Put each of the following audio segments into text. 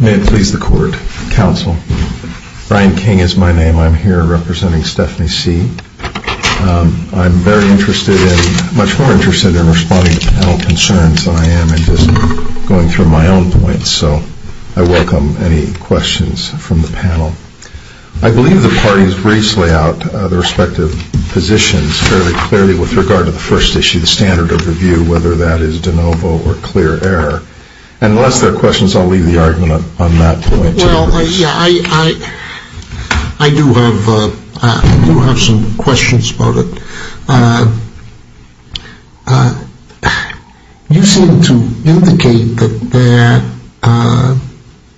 May it please the Court, Counsel. Brian King is my name. I'm here representing Stephanie C. I'm much more interested in responding to panel concerns than I am in just going through my own points, so I welcome any questions from the panel. I believe the parties briefly out their respective positions fairly clearly with regard to the first issue, the standard of review, whether that is de novo or clear error. Unless their questions, I'll leave the argument on that point to the Court. I do have some questions about it. You seem to indicate that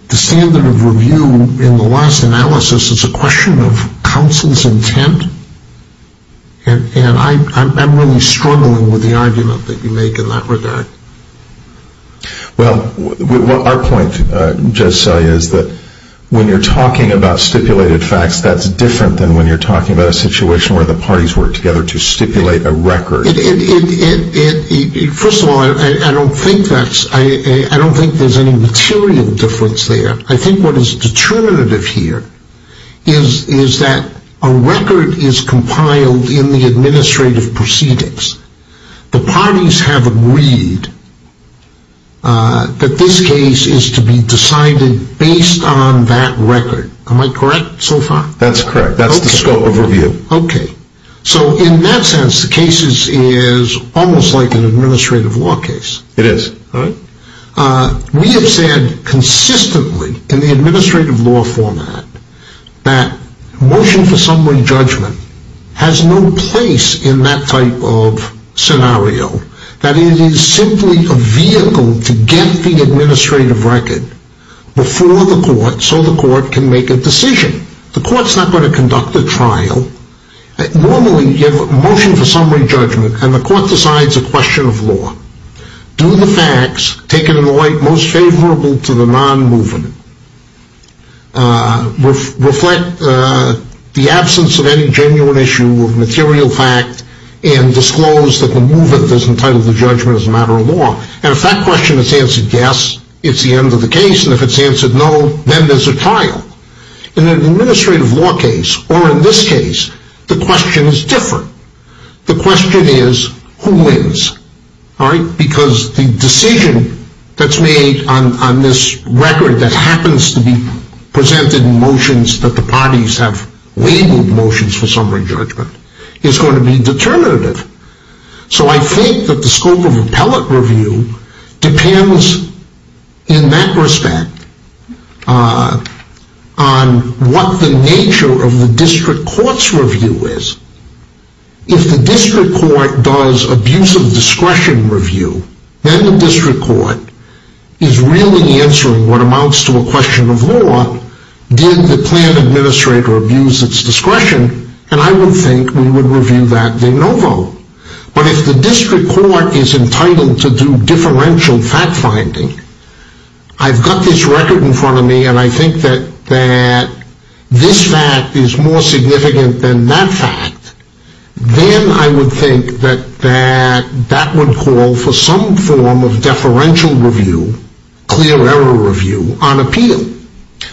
the standard of review in the last analysis is a question of counsel's intent, and I'm really struggling with the argument that you make in that regard. Well, our point, Judge Selye, is that when you're talking about stipulated facts, that's different than when you're talking about a situation where the parties work together to stipulate a record. First of all, I don't think there's any material difference there. I think what is determinative here is that a record is compiled in the administrative proceedings. The parties have agreed that this case is to be decided based on that record. Am I correct so far? That's correct. That's the scope of review. So in that sense, the case is almost like an administrative law case. It is. We have said consistently in the administrative law format that motion for summary judgment has no place in that type of scenario. That it is simply a vehicle to get the administrative record before the Court so the Court can make a decision. The Court's not going to conduct a trial. Normally, you have a motion for summary judgment, and the Court decides a question of law. Do the facts taken in the light most favorable to the non-movement reflect the absence of any genuine issue of material fact and disclose that the movement is entitled to judgment as a matter of law? And if that question is answered yes, it's the end of the case, and if it's answered no, then there's a trial. In an administrative law case, or in this case, the question is different. The question is who wins, because the decision that's made on this record that happens to be presented in motions that the parties have labeled motions for summary judgment is going to be determinative. So I think that the scope of appellate review depends in that respect on what the nature of the district court's review is. If the district court does abuse of discretion review, then the district court is really answering what amounts to a question of law. Did the plan administrator abuse its discretion? And I would think we would review that de novo. But if the district court is entitled to do differential fact finding, I've got this record in front of me, and I think that this fact is more significant than that fact, then I would think that that would call for some form of deferential review, clear error review, on appeal.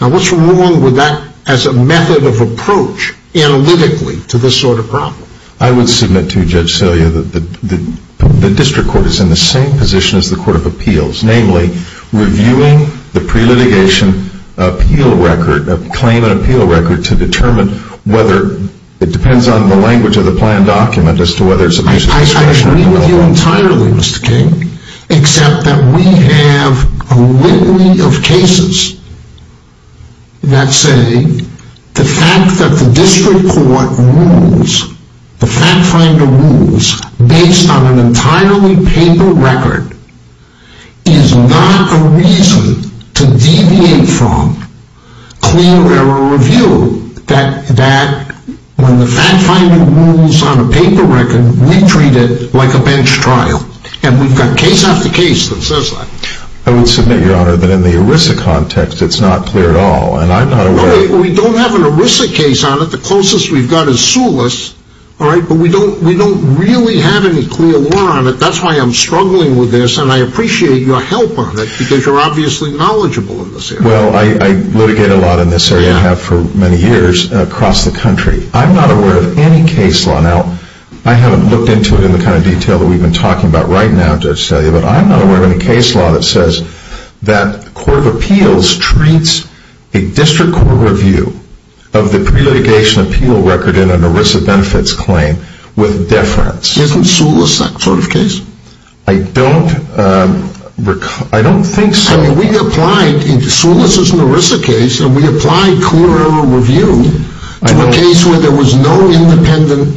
Now, what's wrong with that as a method of approach analytically to this sort of problem? I would submit to you, Judge Celia, that the district court is in the same position as the court of appeals. Namely, reviewing the pre-litigation appeal record, the claim and appeal record, to determine whether it depends on the language of the plan document as to whether it's abuse of discretion or not. I agree with you entirely, Mr. King, except that we have a litany of cases that say the fact that the district court rules, the fact finder rules, based on an entirely paper record is not a reason to deviate from clear error review, that when the fact finder rules on a paper record, we treat it like a bench trial. And we've got case after case that says that. I would submit, Your Honor, that in the ERISA context, it's not clear at all. And I'm not aware... We don't have an ERISA case on it. The closest we've got is SULIS. But we don't really have any clear law on it. That's why I'm struggling with this. And I appreciate your help on it, because you're obviously knowledgeable in this area. Well, I litigate a lot in this area and have for many years across the country. I'm not aware of any case law. Now, I haven't looked into it in the kind of detail that we've been talking about right now, Judge Celia, but I'm not aware of any case law that says that court of appeals treats a district court review of the pre-litigation appeal record in an ERISA benefits claim with deference. Isn't SULIS that sort of case? I don't recall... I don't think so. I mean, we applied... SULIS is an ERISA case, and we applied clear error review to a case where there was no independent...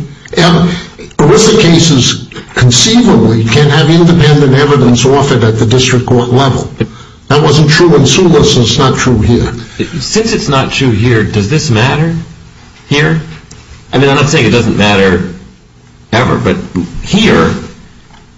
ERISA cases, conceivably, can have independent evidence offered at the district court level. That wasn't true in SULIS, and it's not true here. Since it's not true here, does this matter here? I mean, I'm not saying it doesn't matter ever, but here,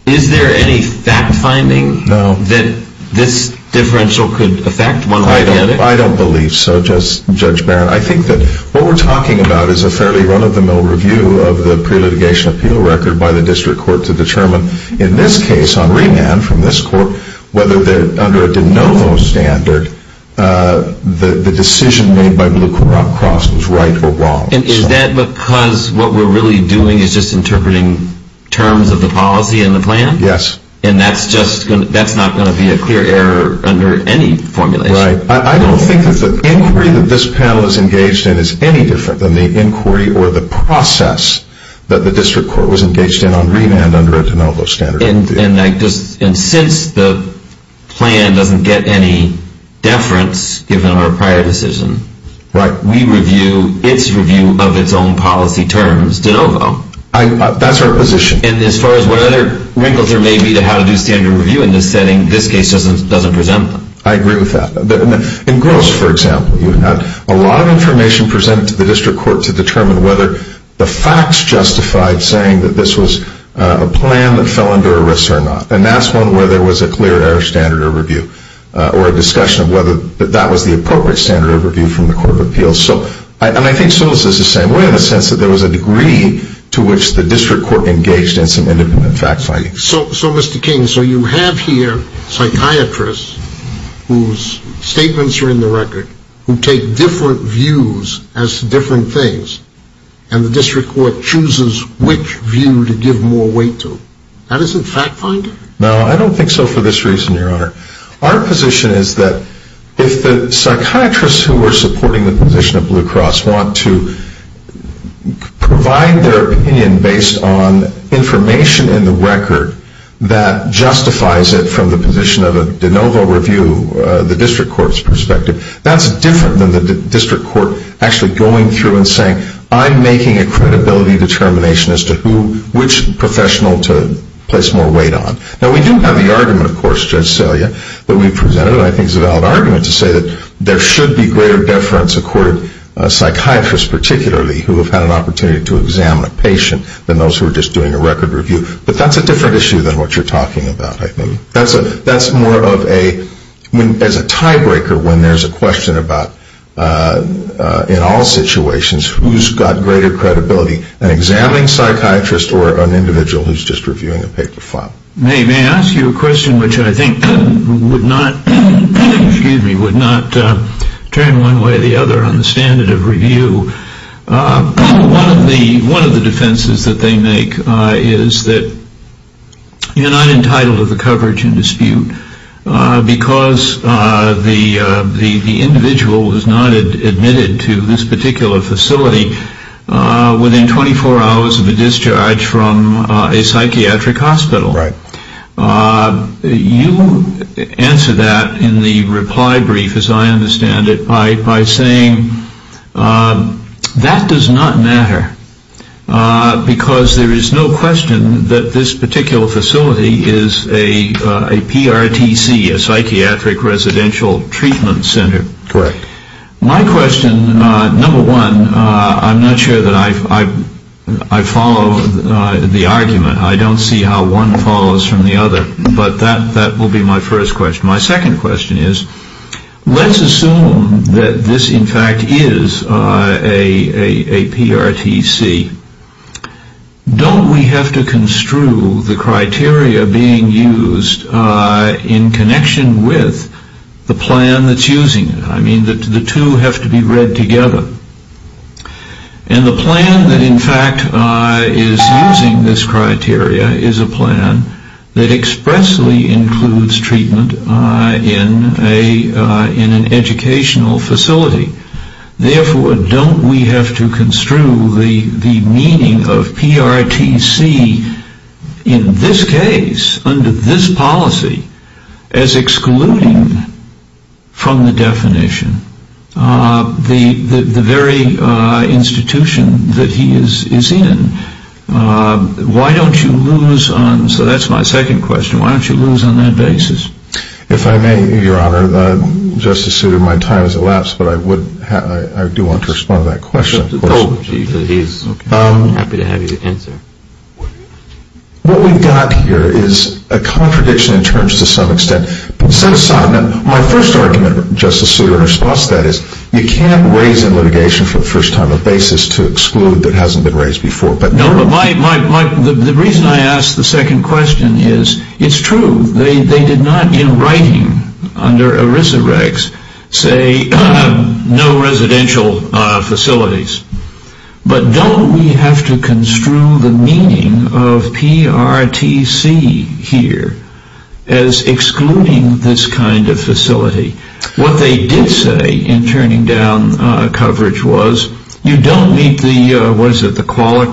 is there any fact-finding that this differential could affect one way or the other? I don't believe so, Judge Barron. I think that what we're talking about is a fairly run-of-the-mill review of the pre-litigation appeal record by the district court to determine, in this case, on remand from this court, whether under a de novo standard, the decision made by Blue Cross was right or wrong. And is that because what we're really doing is just interpreting terms of the policy and the plan? Yes. And that's just going to... that's not going to be a clear error under any formulation? Right. I don't think that the inquiry that this panel is engaged in is any different than the inquiry or the process that the district court was engaged in on remand under a de novo standard. And I just... and since the plan doesn't get any deference, given our prior decision... Right. ...we review its review of its own policy terms de novo. That's our position. And as far as what other wrinkles there may be to how to do standard review in this setting, this case doesn't present them. I agree with that. In Gross, for example, you had a lot of information presented to the district court to determine whether the facts justified saying that this was a plan that fell under arrest or not. And that's one where there was a clear error standard of review, or a discussion of whether that was the appropriate standard of review from the court of appeals. So... and I think Solis is the same way, in the sense that there was a degree to which the district court engaged in some independent fact-finding. So, Mr. King, so you have here psychiatrists whose statements are in the record, who take different views as to different things, and the district court chooses which view to give more weight to. That isn't fact-finding? No, I don't think so for this reason, Your Honor. Our position is that if the psychiatrists who are supporting the position of Blue Cross want to provide their opinion based on information in the record that justifies it from the position of a de novo review, the district court's perspective, that's different than the district court actually going through and saying, I'm making a credibility determination as to who, which professional to place more weight on. Now, we do have the argument, of course, Judge Selya, that we presented, and I think it's a valid argument to say that there should be greater deference accorded psychiatrists, particularly, who have had an opportunity to examine a patient than those who are just doing a record review. But that's a different issue than what you're talking about, I think. That's more of a... as a tie-breaker when there's a question about, in all situations, who's got greater credibility, an examining psychiatrist or an individual who's just reviewing a paper file. May I ask you a question which I think would not, excuse me, would not turn one way or the other on the standard of review. One of the defenses that they make is that you're not entitled to the coverage in dispute because the individual was not admitted to this particular facility within 24 hours of the discharge from a psychiatric hospital. Right. You answer that in the reply brief, as I understand it, by saying, that does not matter because there is no question that this particular facility is a PRTC, a psychiatric residential treatment center. Correct. My question, number one, I'm not sure that I follow the argument. I don't see how one follows from the other. But that will be my first question. My second question is, let's assume that this, in fact, is a PRTC. Don't we have to construe the criteria being used in connection with the plan that's using it? I mean, the two have to be read together. And the plan that, in fact, is using this criteria is a plan that expressly includes treatment in an educational facility. Therefore, don't we have to construe the meaning of PRTC in this case, under this policy, as excluding from the definition the very institution that he is in? Why don't you lose on, so that's my second question, why don't you lose on that basis? If I may, Your Honor, just as soon as my time has elapsed, but I would, I do want to respond to that question. What we've got here is a contradiction in terms to some extent. My first argument, Justice Souter, in response to that is, you can't raise in litigation for the first time a basis to exclude that hasn't been raised before. No, but my, the reason I ask the second question is, it's true. They did not, in writing, under But don't we have to construe the meaning of PRTC here as excluding this kind of facility? What they did say in turning down coverage was, you don't meet the, what is it, the qualic,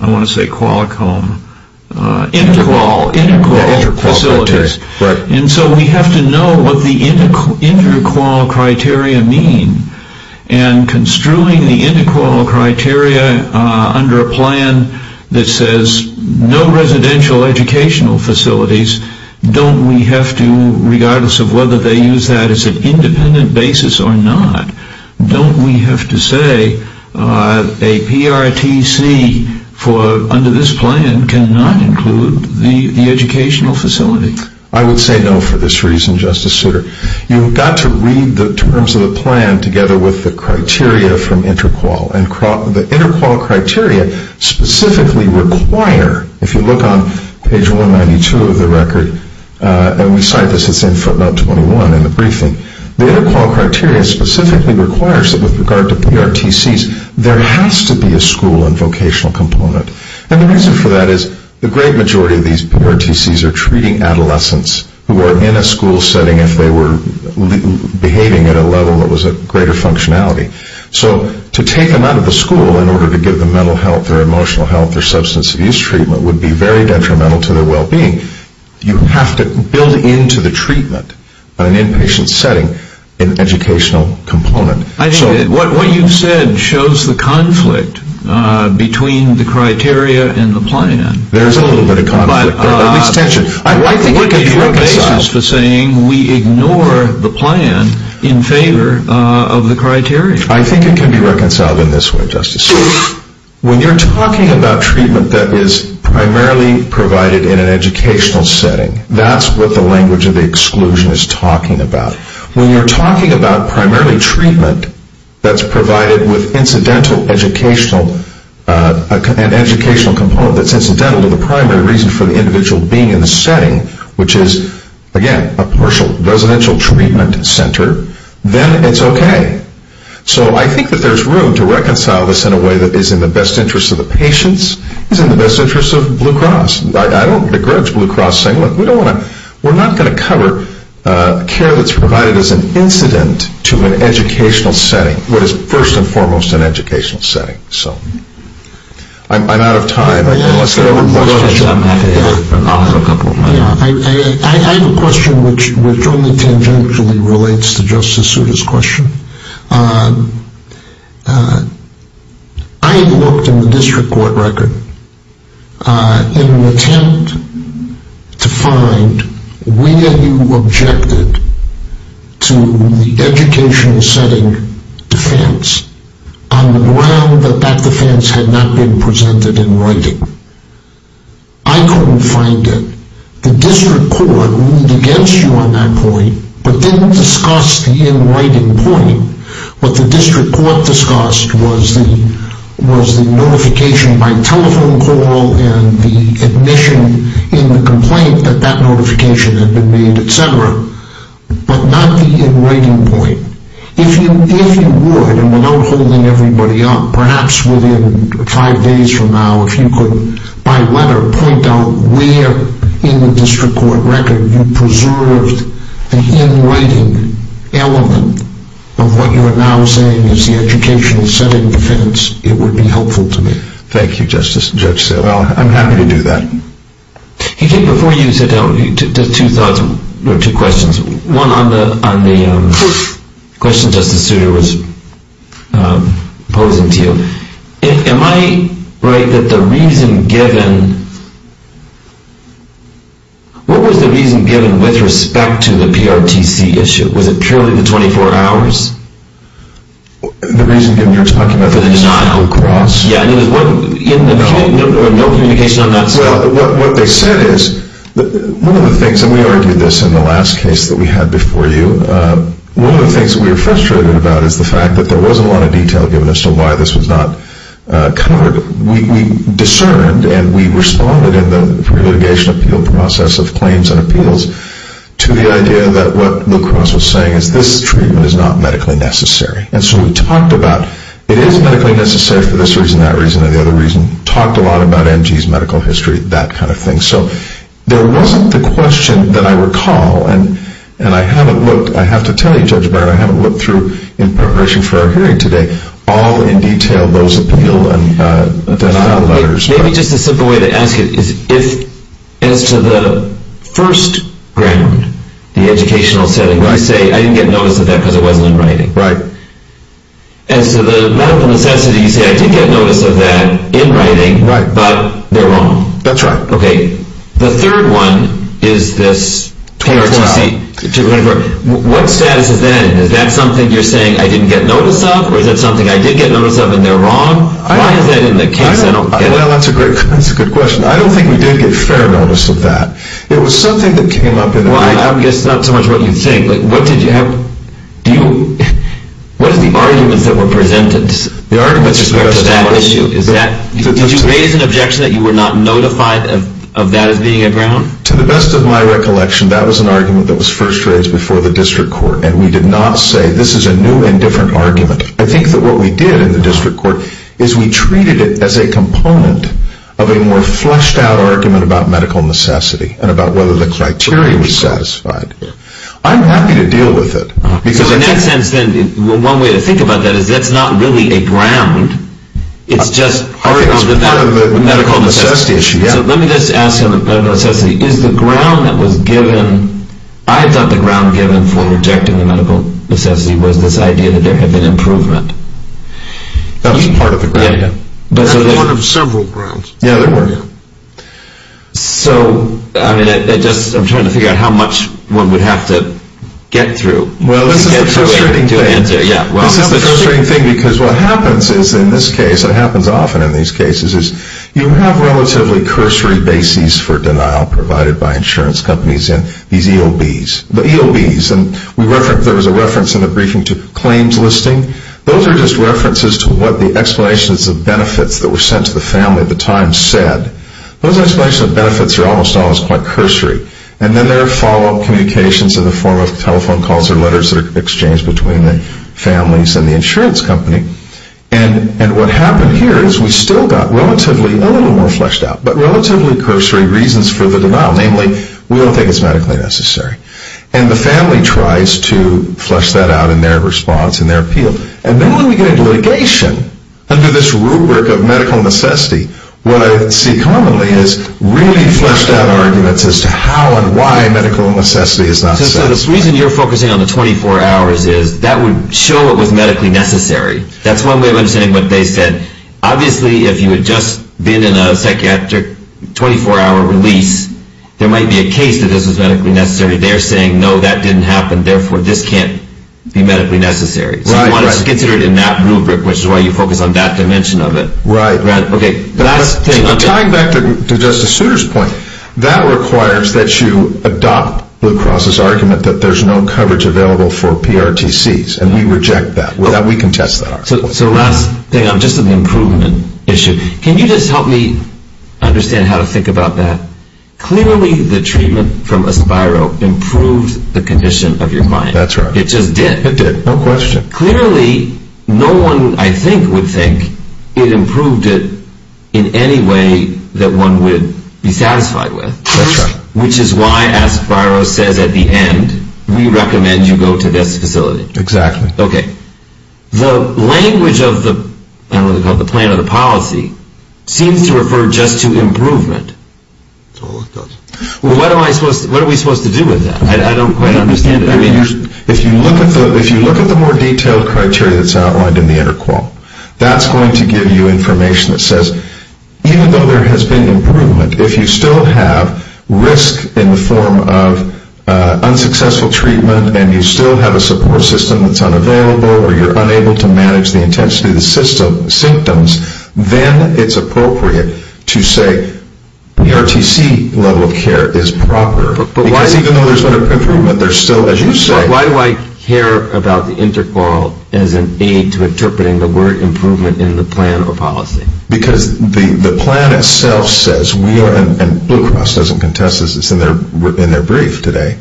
I want to say qualic home, inter-qual, inter-qual facilities, and so we have to know what the inter-qual criteria mean, and construing the inter-qual criteria under a plan that says no residential educational facilities, don't we have to, regardless of whether they use that as an independent basis or not, don't we have to say a PRTC for, under this plan, cannot include the educational facility? I would say no for this reason, Justice Souter. You've got to read the terms of the plan together with the criteria from inter-qual, and the inter-qual criteria specifically require, if you look on page 192 of the record, and we cite this, it's in footnote 21 in the briefing, the inter-qual criteria specifically requires that with regard to PRTCs, there has to be a school and vocational component, and the reason for that is, the great majority of adolescents who are in a school setting, if they were behaving at a level that was a greater functionality, so to take them out of the school in order to give them mental health or emotional health or substance abuse treatment would be very detrimental to their well-being. You have to build into the treatment, an inpatient setting, an educational component. I think what you've said shows the conflict between the criteria and the plan. There's a little bit of conflict, or at least tension. I think it can be reconciled. We ignore the plan in favor of the criteria. I think it can be reconciled in this way, Justice Souter. When you're talking about treatment that is primarily provided in an educational setting, that's what the language of the exclusion is talking about. When you're talking about primarily treatment that's provided with incidental educational, an educational component that's incidental to the primary reason for the individual being in the setting, which is, again, a partial residential treatment center, then it's okay. So I think that there's room to reconcile this in a way that is in the best interest of the patients, is in the best interest of Blue Cross. I don't begrudge Blue Cross saying, look, we're not going to cover care that's provided as an incident to an educational setting, what is first and foremost an educational setting. So I'm out of time, unless there are other questions. I'm happy to offer a couple of my own. I have a question which only tangentially relates to Justice Souter's question. I looked in the district court record in an attempt to find where you objected to the educational setting defense on the ground that that defense had not been presented in writing. I couldn't find it. The district court ruled against you on that point, but didn't discuss the in writing point. What the district court discussed was the notification by telephone call and the admission in the complaint that that notification had been made, et cetera, but not the in writing point. If you would, and without holding everybody up, perhaps within five days from now if you could by letter point out where in the district court record you preserved the in writing element of what you are now saying is the educational setting defense, it would be helpful to me. Thank you, Justice Souter. I'm happy to do that. I think before you sit down, two questions. One on the question Justice Souter was posing to you. Am I right that the reason given, what was the reason given with respect to the PRTC issue? Was it purely the 24 hours? The reason given, you're talking about the denial clause? Yeah, no communication on that. What they said is, one of the things, and we argued this in the last case that we had before you, one of the things we were frustrated about is the fact that there wasn't a lot of detail given as to why this was not covered. We discerned and we responded in the litigation appeal process of claims and appeals to the idea that what La Crosse was saying is this treatment is not medically necessary. And so we talked about it is medically necessary for this reason, that reason, and the other reason, talked a lot about MG's medical history, that kind of thing. So there wasn't the question that I recall, and I haven't looked, I have to tell you Judge Byron, I haven't looked through in preparation for our hearing today, all in detail those appeal and denial letters. Maybe just a simple way to ask it is if as to the first ground, the educational setting, where you say I didn't get notice of that because it wasn't in writing. Right. And so the medical necessity, you say I did get notice of that in writing, but they're wrong. That's right. Okay. The third one is this 24-hour. What status is that in? Is that something you're saying I didn't get notice of? Or is that something I did get notice of and they're wrong? Why is that in the case? I don't get it. Well, that's a great, that's a good question. I don't think we did get fair notice of that. It was something that came up in the writing. Well, I guess that's not so much what you're saying. Like what did you have, do you, what is the arguments that were presented with respect to that issue? Is that, did you raise an objection that you were not notified of that as being a ground? To the best of my recollection, that was an argument that was first raised before the district court. And we did not say this is a new and different argument. I think that what we did in the district court is we treated it as a component of a more fleshed out argument about medical necessity and about whether the criteria was satisfied. I'm happy to deal with it. So in that sense then, one way to think about that is that's not really a ground. It's just part of the medical necessity issue. So let me just ask on the medical necessity, is the ground that was given, I thought the ground given for rejecting the medical necessity was this idea that there had been improvement. That was part of the ground. That was one of several grounds. Yeah, there were. So, I mean, I just, I'm trying to figure out how much one would have to get through. Well, this is the frustrating thing. This is the frustrating thing because what happens is in this case, what happens often in these cases is you have relatively cursory bases for denial provided by insurance companies and these EOBs, the EOBs, and there was a reference in the briefing to claims listing. Those are just references to what the explanations of benefits that were sent to the family at the time said. Those explanations of benefits are almost always quite cursory. And then there are follow-up communications in the form of telephone calls or letters that are exchanged between the families and the insurance company. And what happened here is we still got relatively, a little more fleshed out, but relatively cursory reasons for the denial. Namely, we don't think it's medically necessary. And the family tries to flesh that out in their response, in their appeal. And then when we get into litigation, under this rubric of medical necessity, what I see commonly is really fleshed out arguments as to how and why medical necessity is not set. So the reason you're focusing on the 24 hours is that would show it was medically necessary. That's one way of understanding what they said. Obviously, if you had just been in a psychiatric 24-hour release, there might be a case that this was medically necessary. They're saying, no, that didn't happen. Therefore, this can't be medically necessary. So you want to consider it in that rubric, which is why you focus on that dimension of it. Right. Okay, last thing. Tying back to Justice Souter's point, that requires that you adopt Blue Cross's argument that there's no coverage available for PRTCs. And we reject that. We contest that argument. So last thing, just on the improvement issue. Can you just help me understand how to think about that? Clearly, the treatment from Aspiro improved the condition of your mind. That's right. It just did. It did, no question. Clearly, no one, I think, would think it improved it in any way that one would be satisfied with. That's right. Which is why Aspiro says at the end, we recommend you go to this facility. Exactly. Okay. The language of the plan of the policy seems to refer just to improvement. That's all it does. Well, what are we supposed to do with that? I don't quite understand it. If you look at the more detailed criteria that's outlined in the interqual, that's going to give you information that says, even though there has been improvement, if you still have risk in the form of unsuccessful treatment, and you still have a support system that's unavailable, or you're unable to manage the intensity of the symptoms, then it's appropriate to say the RTC level of care is proper. Because even though there's been an improvement, there's still, as you say... Why do I care about the interqual as an aid to interpreting the word improvement in the plan or policy? Because the plan itself says we are, and Blue Cross doesn't contest this, it's in their brief today,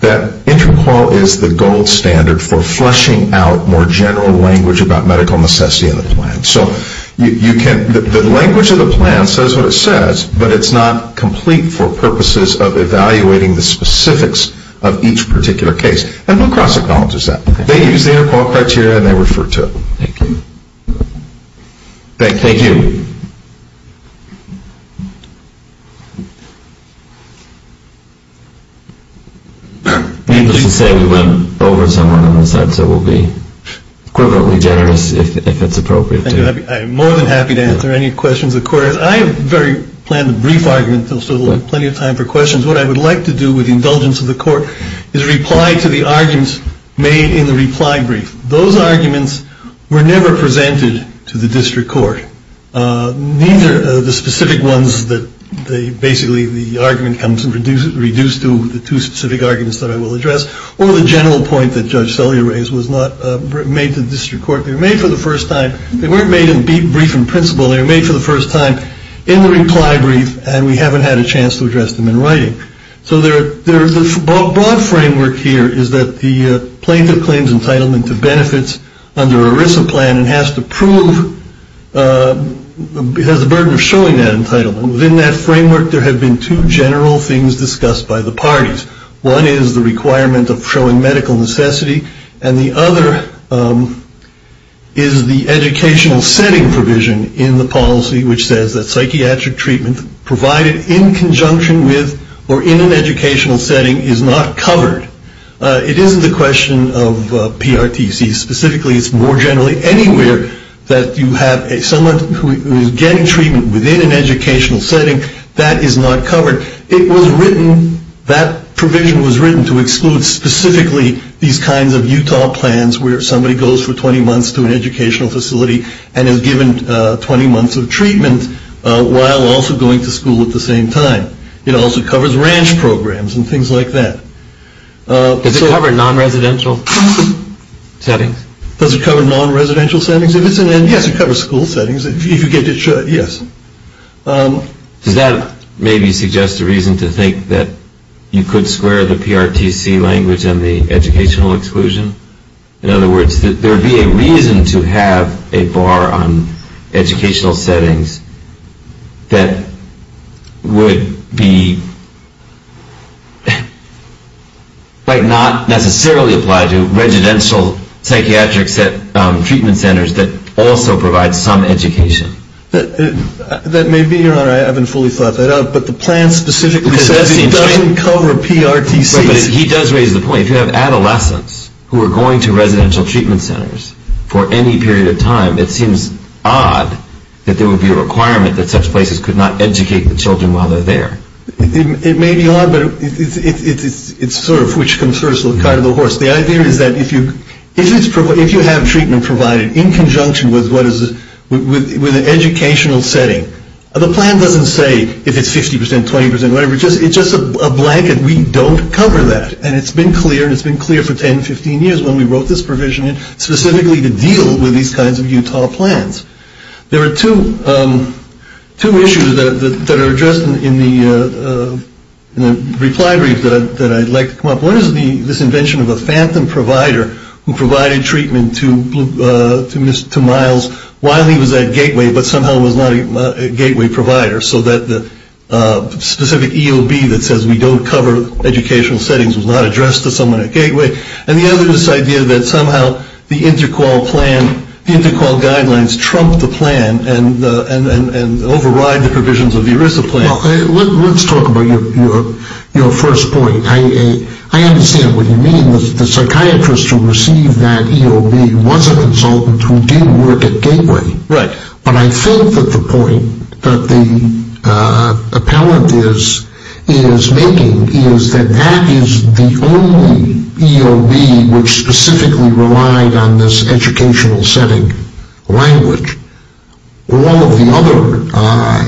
that interqual is the gold standard for fleshing out more general language about medical necessity in the plan. So the language of the plan says what it says, but it's not complete for purposes of evaluating the specifics of each particular case. And Blue Cross acknowledges that. They use the interqual criteria and they refer to it. Thank you. Thank you. Needless to say, we went over someone on the side, so we'll be equivalently generous if it's appropriate. I'm more than happy to answer any questions the court has. I have very planned a brief argument. There's still plenty of time for questions. What I would like to do with the indulgence of the court is reply to the arguments made in the reply brief. Those arguments were never presented to the district court. Neither of the specific ones that basically the argument comes and reduced to the two specific arguments that I will address, or the general point that Judge Sellier raised was not made to the district court. They were made for the first time. They weren't made in brief and principle. They were made for the first time in the reply brief. And we haven't had a chance to address them in writing. So there is a broad framework here is that the plaintiff claims entitlement to benefits under ERISA plan and has to prove, has the burden of showing that entitlement. Within that framework, there have been two general things discussed by the parties. One is the requirement of showing medical necessity, and the other is the educational setting provision in the policy, which says that psychiatric treatment provided in conjunction with or in an educational setting is not covered. It isn't a question of PRTC. Specifically, it's more generally anywhere that you have someone who is getting treatment within an educational setting that is not covered. It was written, that provision was written to exclude specifically these kinds of Utah plans where somebody goes for 20 months to an educational facility and is given 20 months of treatment while also going to school at the same time. It also covers ranch programs and things like that. Does it cover non-residential settings? Does it cover non-residential settings? If it's an N, yes, it covers school settings. If you get it, yes. Does that maybe suggest a reason to think that you could square the PRTC language and the educational exclusion? In other words, that there would be a reason to have a bar on educational settings that would be like not necessarily apply to residential psychiatric treatment centers that also provide some education? That may be, Your Honor, I haven't fully thought that out, but the plan specifically says it doesn't cover PRTCs. He does raise the point, if you have adolescents who are going to residential treatment centers for any period of time, it seems odd that there would be a requirement that such places could not educate the children while they're there. It may be odd, but it's sort of which concerns the little guy to the horse. The idea is that if you have treatment provided in conjunction with an educational setting, the plan doesn't say if it's 50%, 20%, whatever, it's just a blanket. We don't cover that. And it's been clear, and it's been clear for 10, 15 years when we wrote this provision in, specifically to deal with these kinds of Utah plans. There are two issues that are addressed in the reply brief that I'd like to come up with. One is this invention of a phantom provider who provided treatment to Miles while he was at Gateway, but somehow was not a Gateway provider, so that the specific EOB that says we don't cover educational settings was not addressed to someone at Gateway. And the other is this idea that somehow the inter-qual guidelines trump the plan and override the provisions of the ERISA plan. Let's talk about your first point. I understand what you mean. The psychiatrist who received that EOB was a consultant who did work at Gateway. But I think that the point that the appellant is making is that that is the only EOB which specifically relied on this educational setting language. All of the other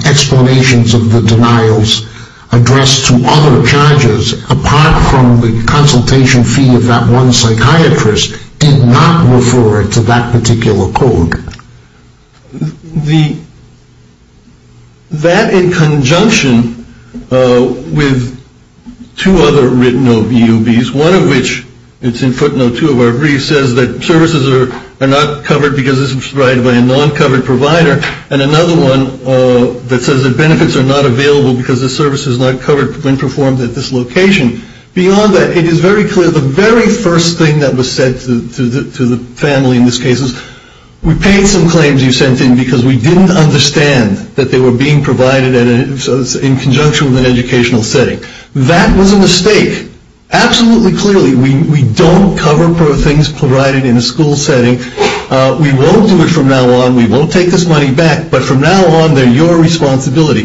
explanations of the denials addressed to other charges, apart from the consultation fee of that one psychiatrist, did not refer to that particular code. That, in conjunction with two other written EOBs, one of which is in footnote 2 of our brief, says that services are not covered because this is provided by a non-covered provider, and another one that says that benefits are not available because the service is not covered when performed at this location. Beyond that, it is very clear that the very first thing that was said to the family in this case is we paid some claims you sent in because we didn't understand that they were being provided in conjunction with an educational setting. That was a mistake. Absolutely clearly, we don't cover things provided in a school setting. We won't do it from now on. We won't take this money back. But from now on, they're your responsibility.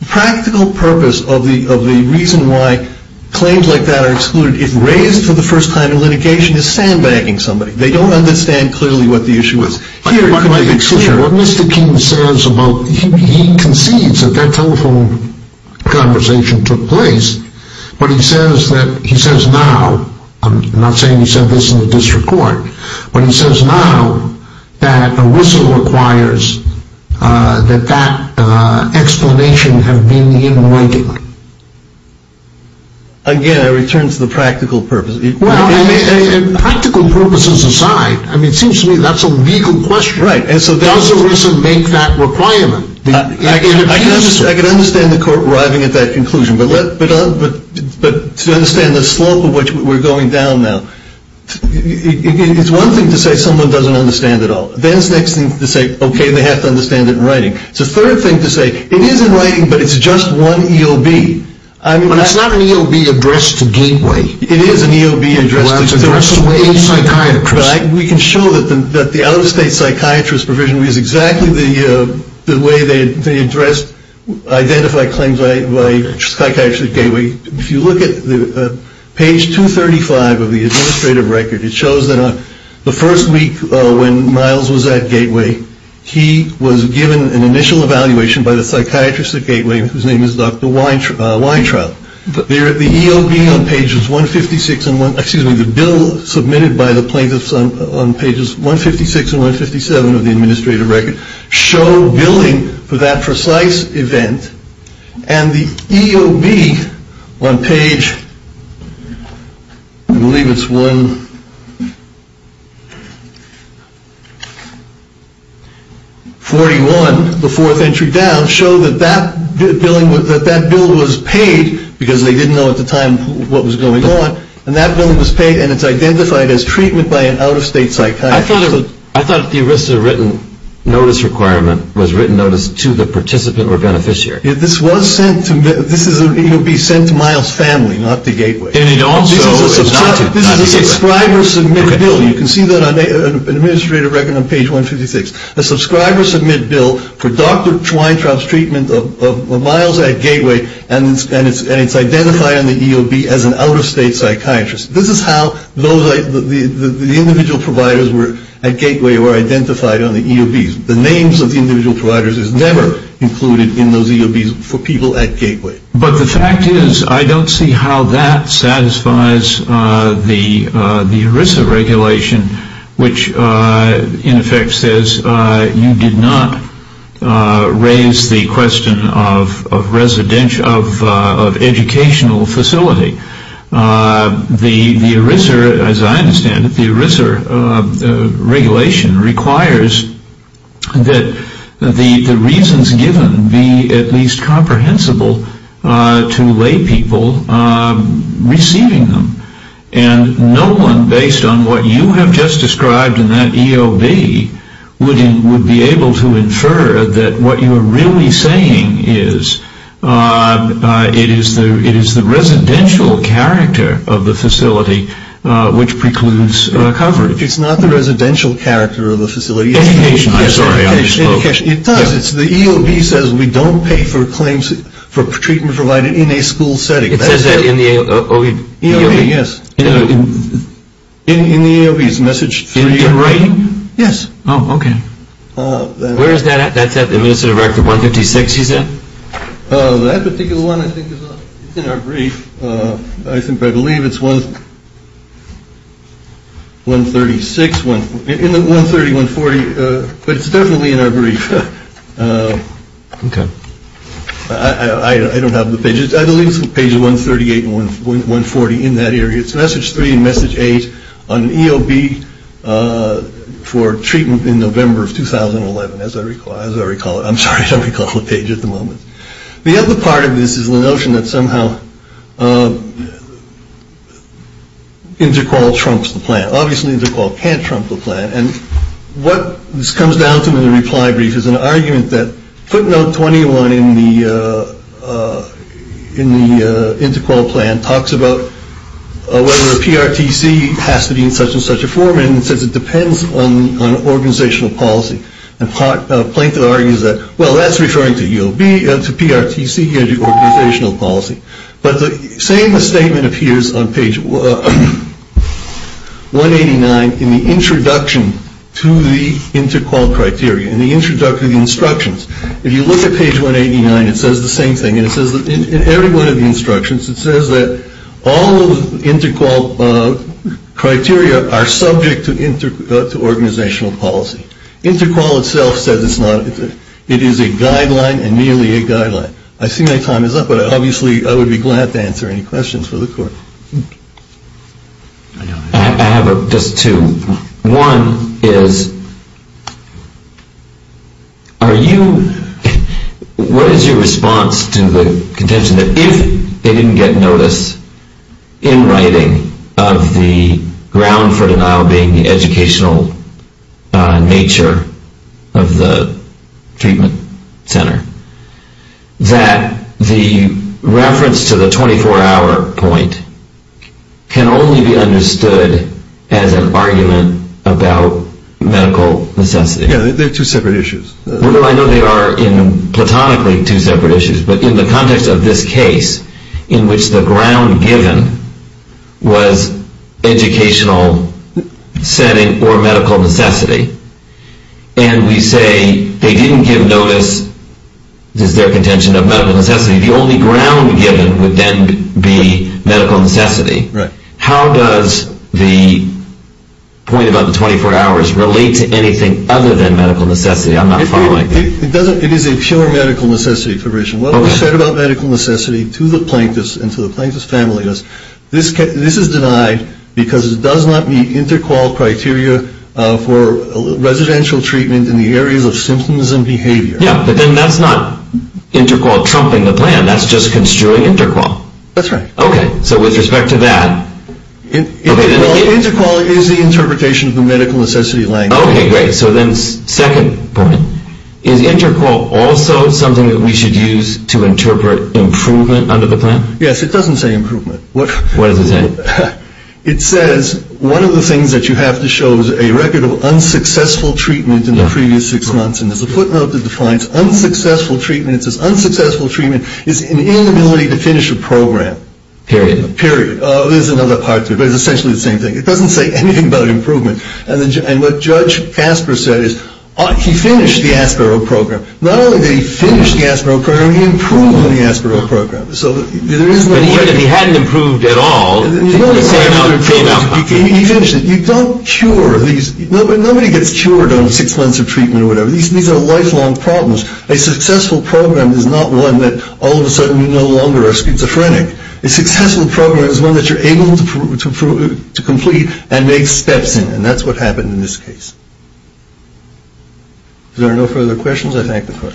The practical purpose of the reason why claims like that are excluded if raised for the first time in litigation is sandbagging somebody. They don't understand clearly what the issue is. Excuse me, what Mr. King says about, he concedes that that telephone conversation took place, but he says now, I'm not saying he said this in the district court, but he says now that a whistle requires that that explanation have been in writing. Again, I return to the practical purpose. Practical purposes aside, it seems to me that's a legal question. Does a whistle make that requirement? I can understand the court arriving at that conclusion, but to understand the slope of which we're going down now, it's one thing to say someone doesn't understand it all. Then it's the next thing to say, okay, they have to understand it in writing. It's the third thing to say, it is in writing, but it's just one EOB. It is an EOB addressed to a psychiatrist. We can show that the out-of-state psychiatrist provision is exactly the way they address, identify claims by psychiatrists at Gateway. If you look at page 235 of the administrative record, it shows that on the first week when Miles was at Gateway, he was given an initial evaluation by the psychiatrist at Gateway, whose name is Dr. Weintraub. But the EOB on pages 156, excuse me, the bill submitted by the plaintiffs on pages 156 and 157 of the administrative record show billing for that precise event. And the EOB on page, I believe it's 141, the fourth entry down, shows that that bill was paid, because they didn't know at the time what was going on, and that bill was paid, and it's identified as treatment by an out-of-state psychiatrist. I thought the ERISA written notice requirement was written notice to the participant or beneficiary. This was sent to, this is an EOB sent to Miles' family, not to Gateway. And it also is not to, not to Gateway. This is a subscriber-submit bill, and you can see that on an administrative record on page 156. A subscriber-submit bill for Dr. Weintraub's treatment of Miles at Gateway, and it's identified on the EOB as an out-of-state psychiatrist. This is how those, the individual providers at Gateway were identified on the EOBs. The names of the individual providers is never included in those EOBs for people at Gateway. But the fact is, I don't see how that satisfies the ERISA regulation, which in effect says you did not raise the question of residential, of educational facility. The ERISA, as I understand it, the ERISA regulation requires that the reasons given be at least comprehensible to lay people receiving them. And no one, based on what you have just described in that EOB, would be able to infer that what you are really saying is, it is the residential character of the facility which precludes coverage. It's not the residential character of the facility. Education, I'm sorry. Education, it does. It's the EOB says we don't pay for claims for treatment provided in a school setting. It says that in the EOB. Yes. In the EOB, it's message three and writing. Yes. Oh, OK. Where is that? That's at the administrative record 156, you said? That particular one, I think, is in our brief. I think I believe it's one. One thirty six one in the one thirty one forty. But it's definitely in our brief. I don't have the pages. I believe it's page one thirty eight one one forty in that area. It's message three and message eight on EOB for treatment in November of 2011. As I recall, as I recall it, I'm sorry to recall the page at the moment. The other part of this is the notion that somehow intercourse trumps the plan. Obviously, they can't trump the plan. And what this comes down to in the reply brief is an argument that footnote twenty one in the in the Interpol plan talks about whether PRTC has to be in such and such a form. And since it depends on organizational policy and part plaintiff argues that, well, that's referring to EOB and to PRTC organizational policy. But saying the statement appears on page one eighty nine in the introduction to the Interpol criteria and the introductory instructions. If you look at page one eighty nine, it says the same thing. And it says that in every one of the instructions, it says that all of the Interpol criteria are subject to inter to organizational policy. Interpol itself says it's not. It is a guideline and nearly a guideline. I see my time is up, but obviously I would be glad to answer any questions for the court. I have just two. One is. Are you. What is your response to the contention that if they didn't get notice in writing of the ground for denial being the educational nature of the treatment center, that the reference to the twenty four hour point can only be understood as an argument about medical necessity to separate issues? Well, I know they are platonically two separate issues, but in the context of this case in which the ground given was educational setting or medical necessity. And we say they didn't give notice. Is there a contention of medical necessity? The only ground given would then be medical necessity. Right. How does the point about the twenty four hours relate to anything other than medical necessity? I'm not following. It doesn't. It is a pure medical necessity provision. What we said about medical necessity to the plaintiffs and to the plaintiff's family is this. This is denied because it does not meet interqual criteria for residential treatment in the areas of symptoms and behavior. Yeah. But then that's not interqual trumping the plan. That's just construing interqual. That's right. OK. So with respect to that, it is the interpretation of the medical necessity language. OK, great. So then second point is interqual also something that we should use to interpret improvement under the plan. Yes, it doesn't say improvement. What does it say? It says one of the things that you have to show is a record of unsuccessful treatment in the previous six months. And there's a footnote that defines unsuccessful treatments as unsuccessful treatment is inability to finish a program. Period. Period. There's another part to it, but it's essentially the same thing. It doesn't say anything about improvement. And what Judge Casper said is he finished the Asper program. Not only did he finish the Asper program, he improved on the Asper program. So there is no way that he hadn't improved at all. And you don't cure these. Nobody gets cured on six months of treatment or whatever. These are lifelong problems. A successful program is not one that all of a sudden you no longer are schizophrenic. A successful program is one that you're able to prove to complete and make steps. And that's what happened in this case. There are no further questions. I thank the court.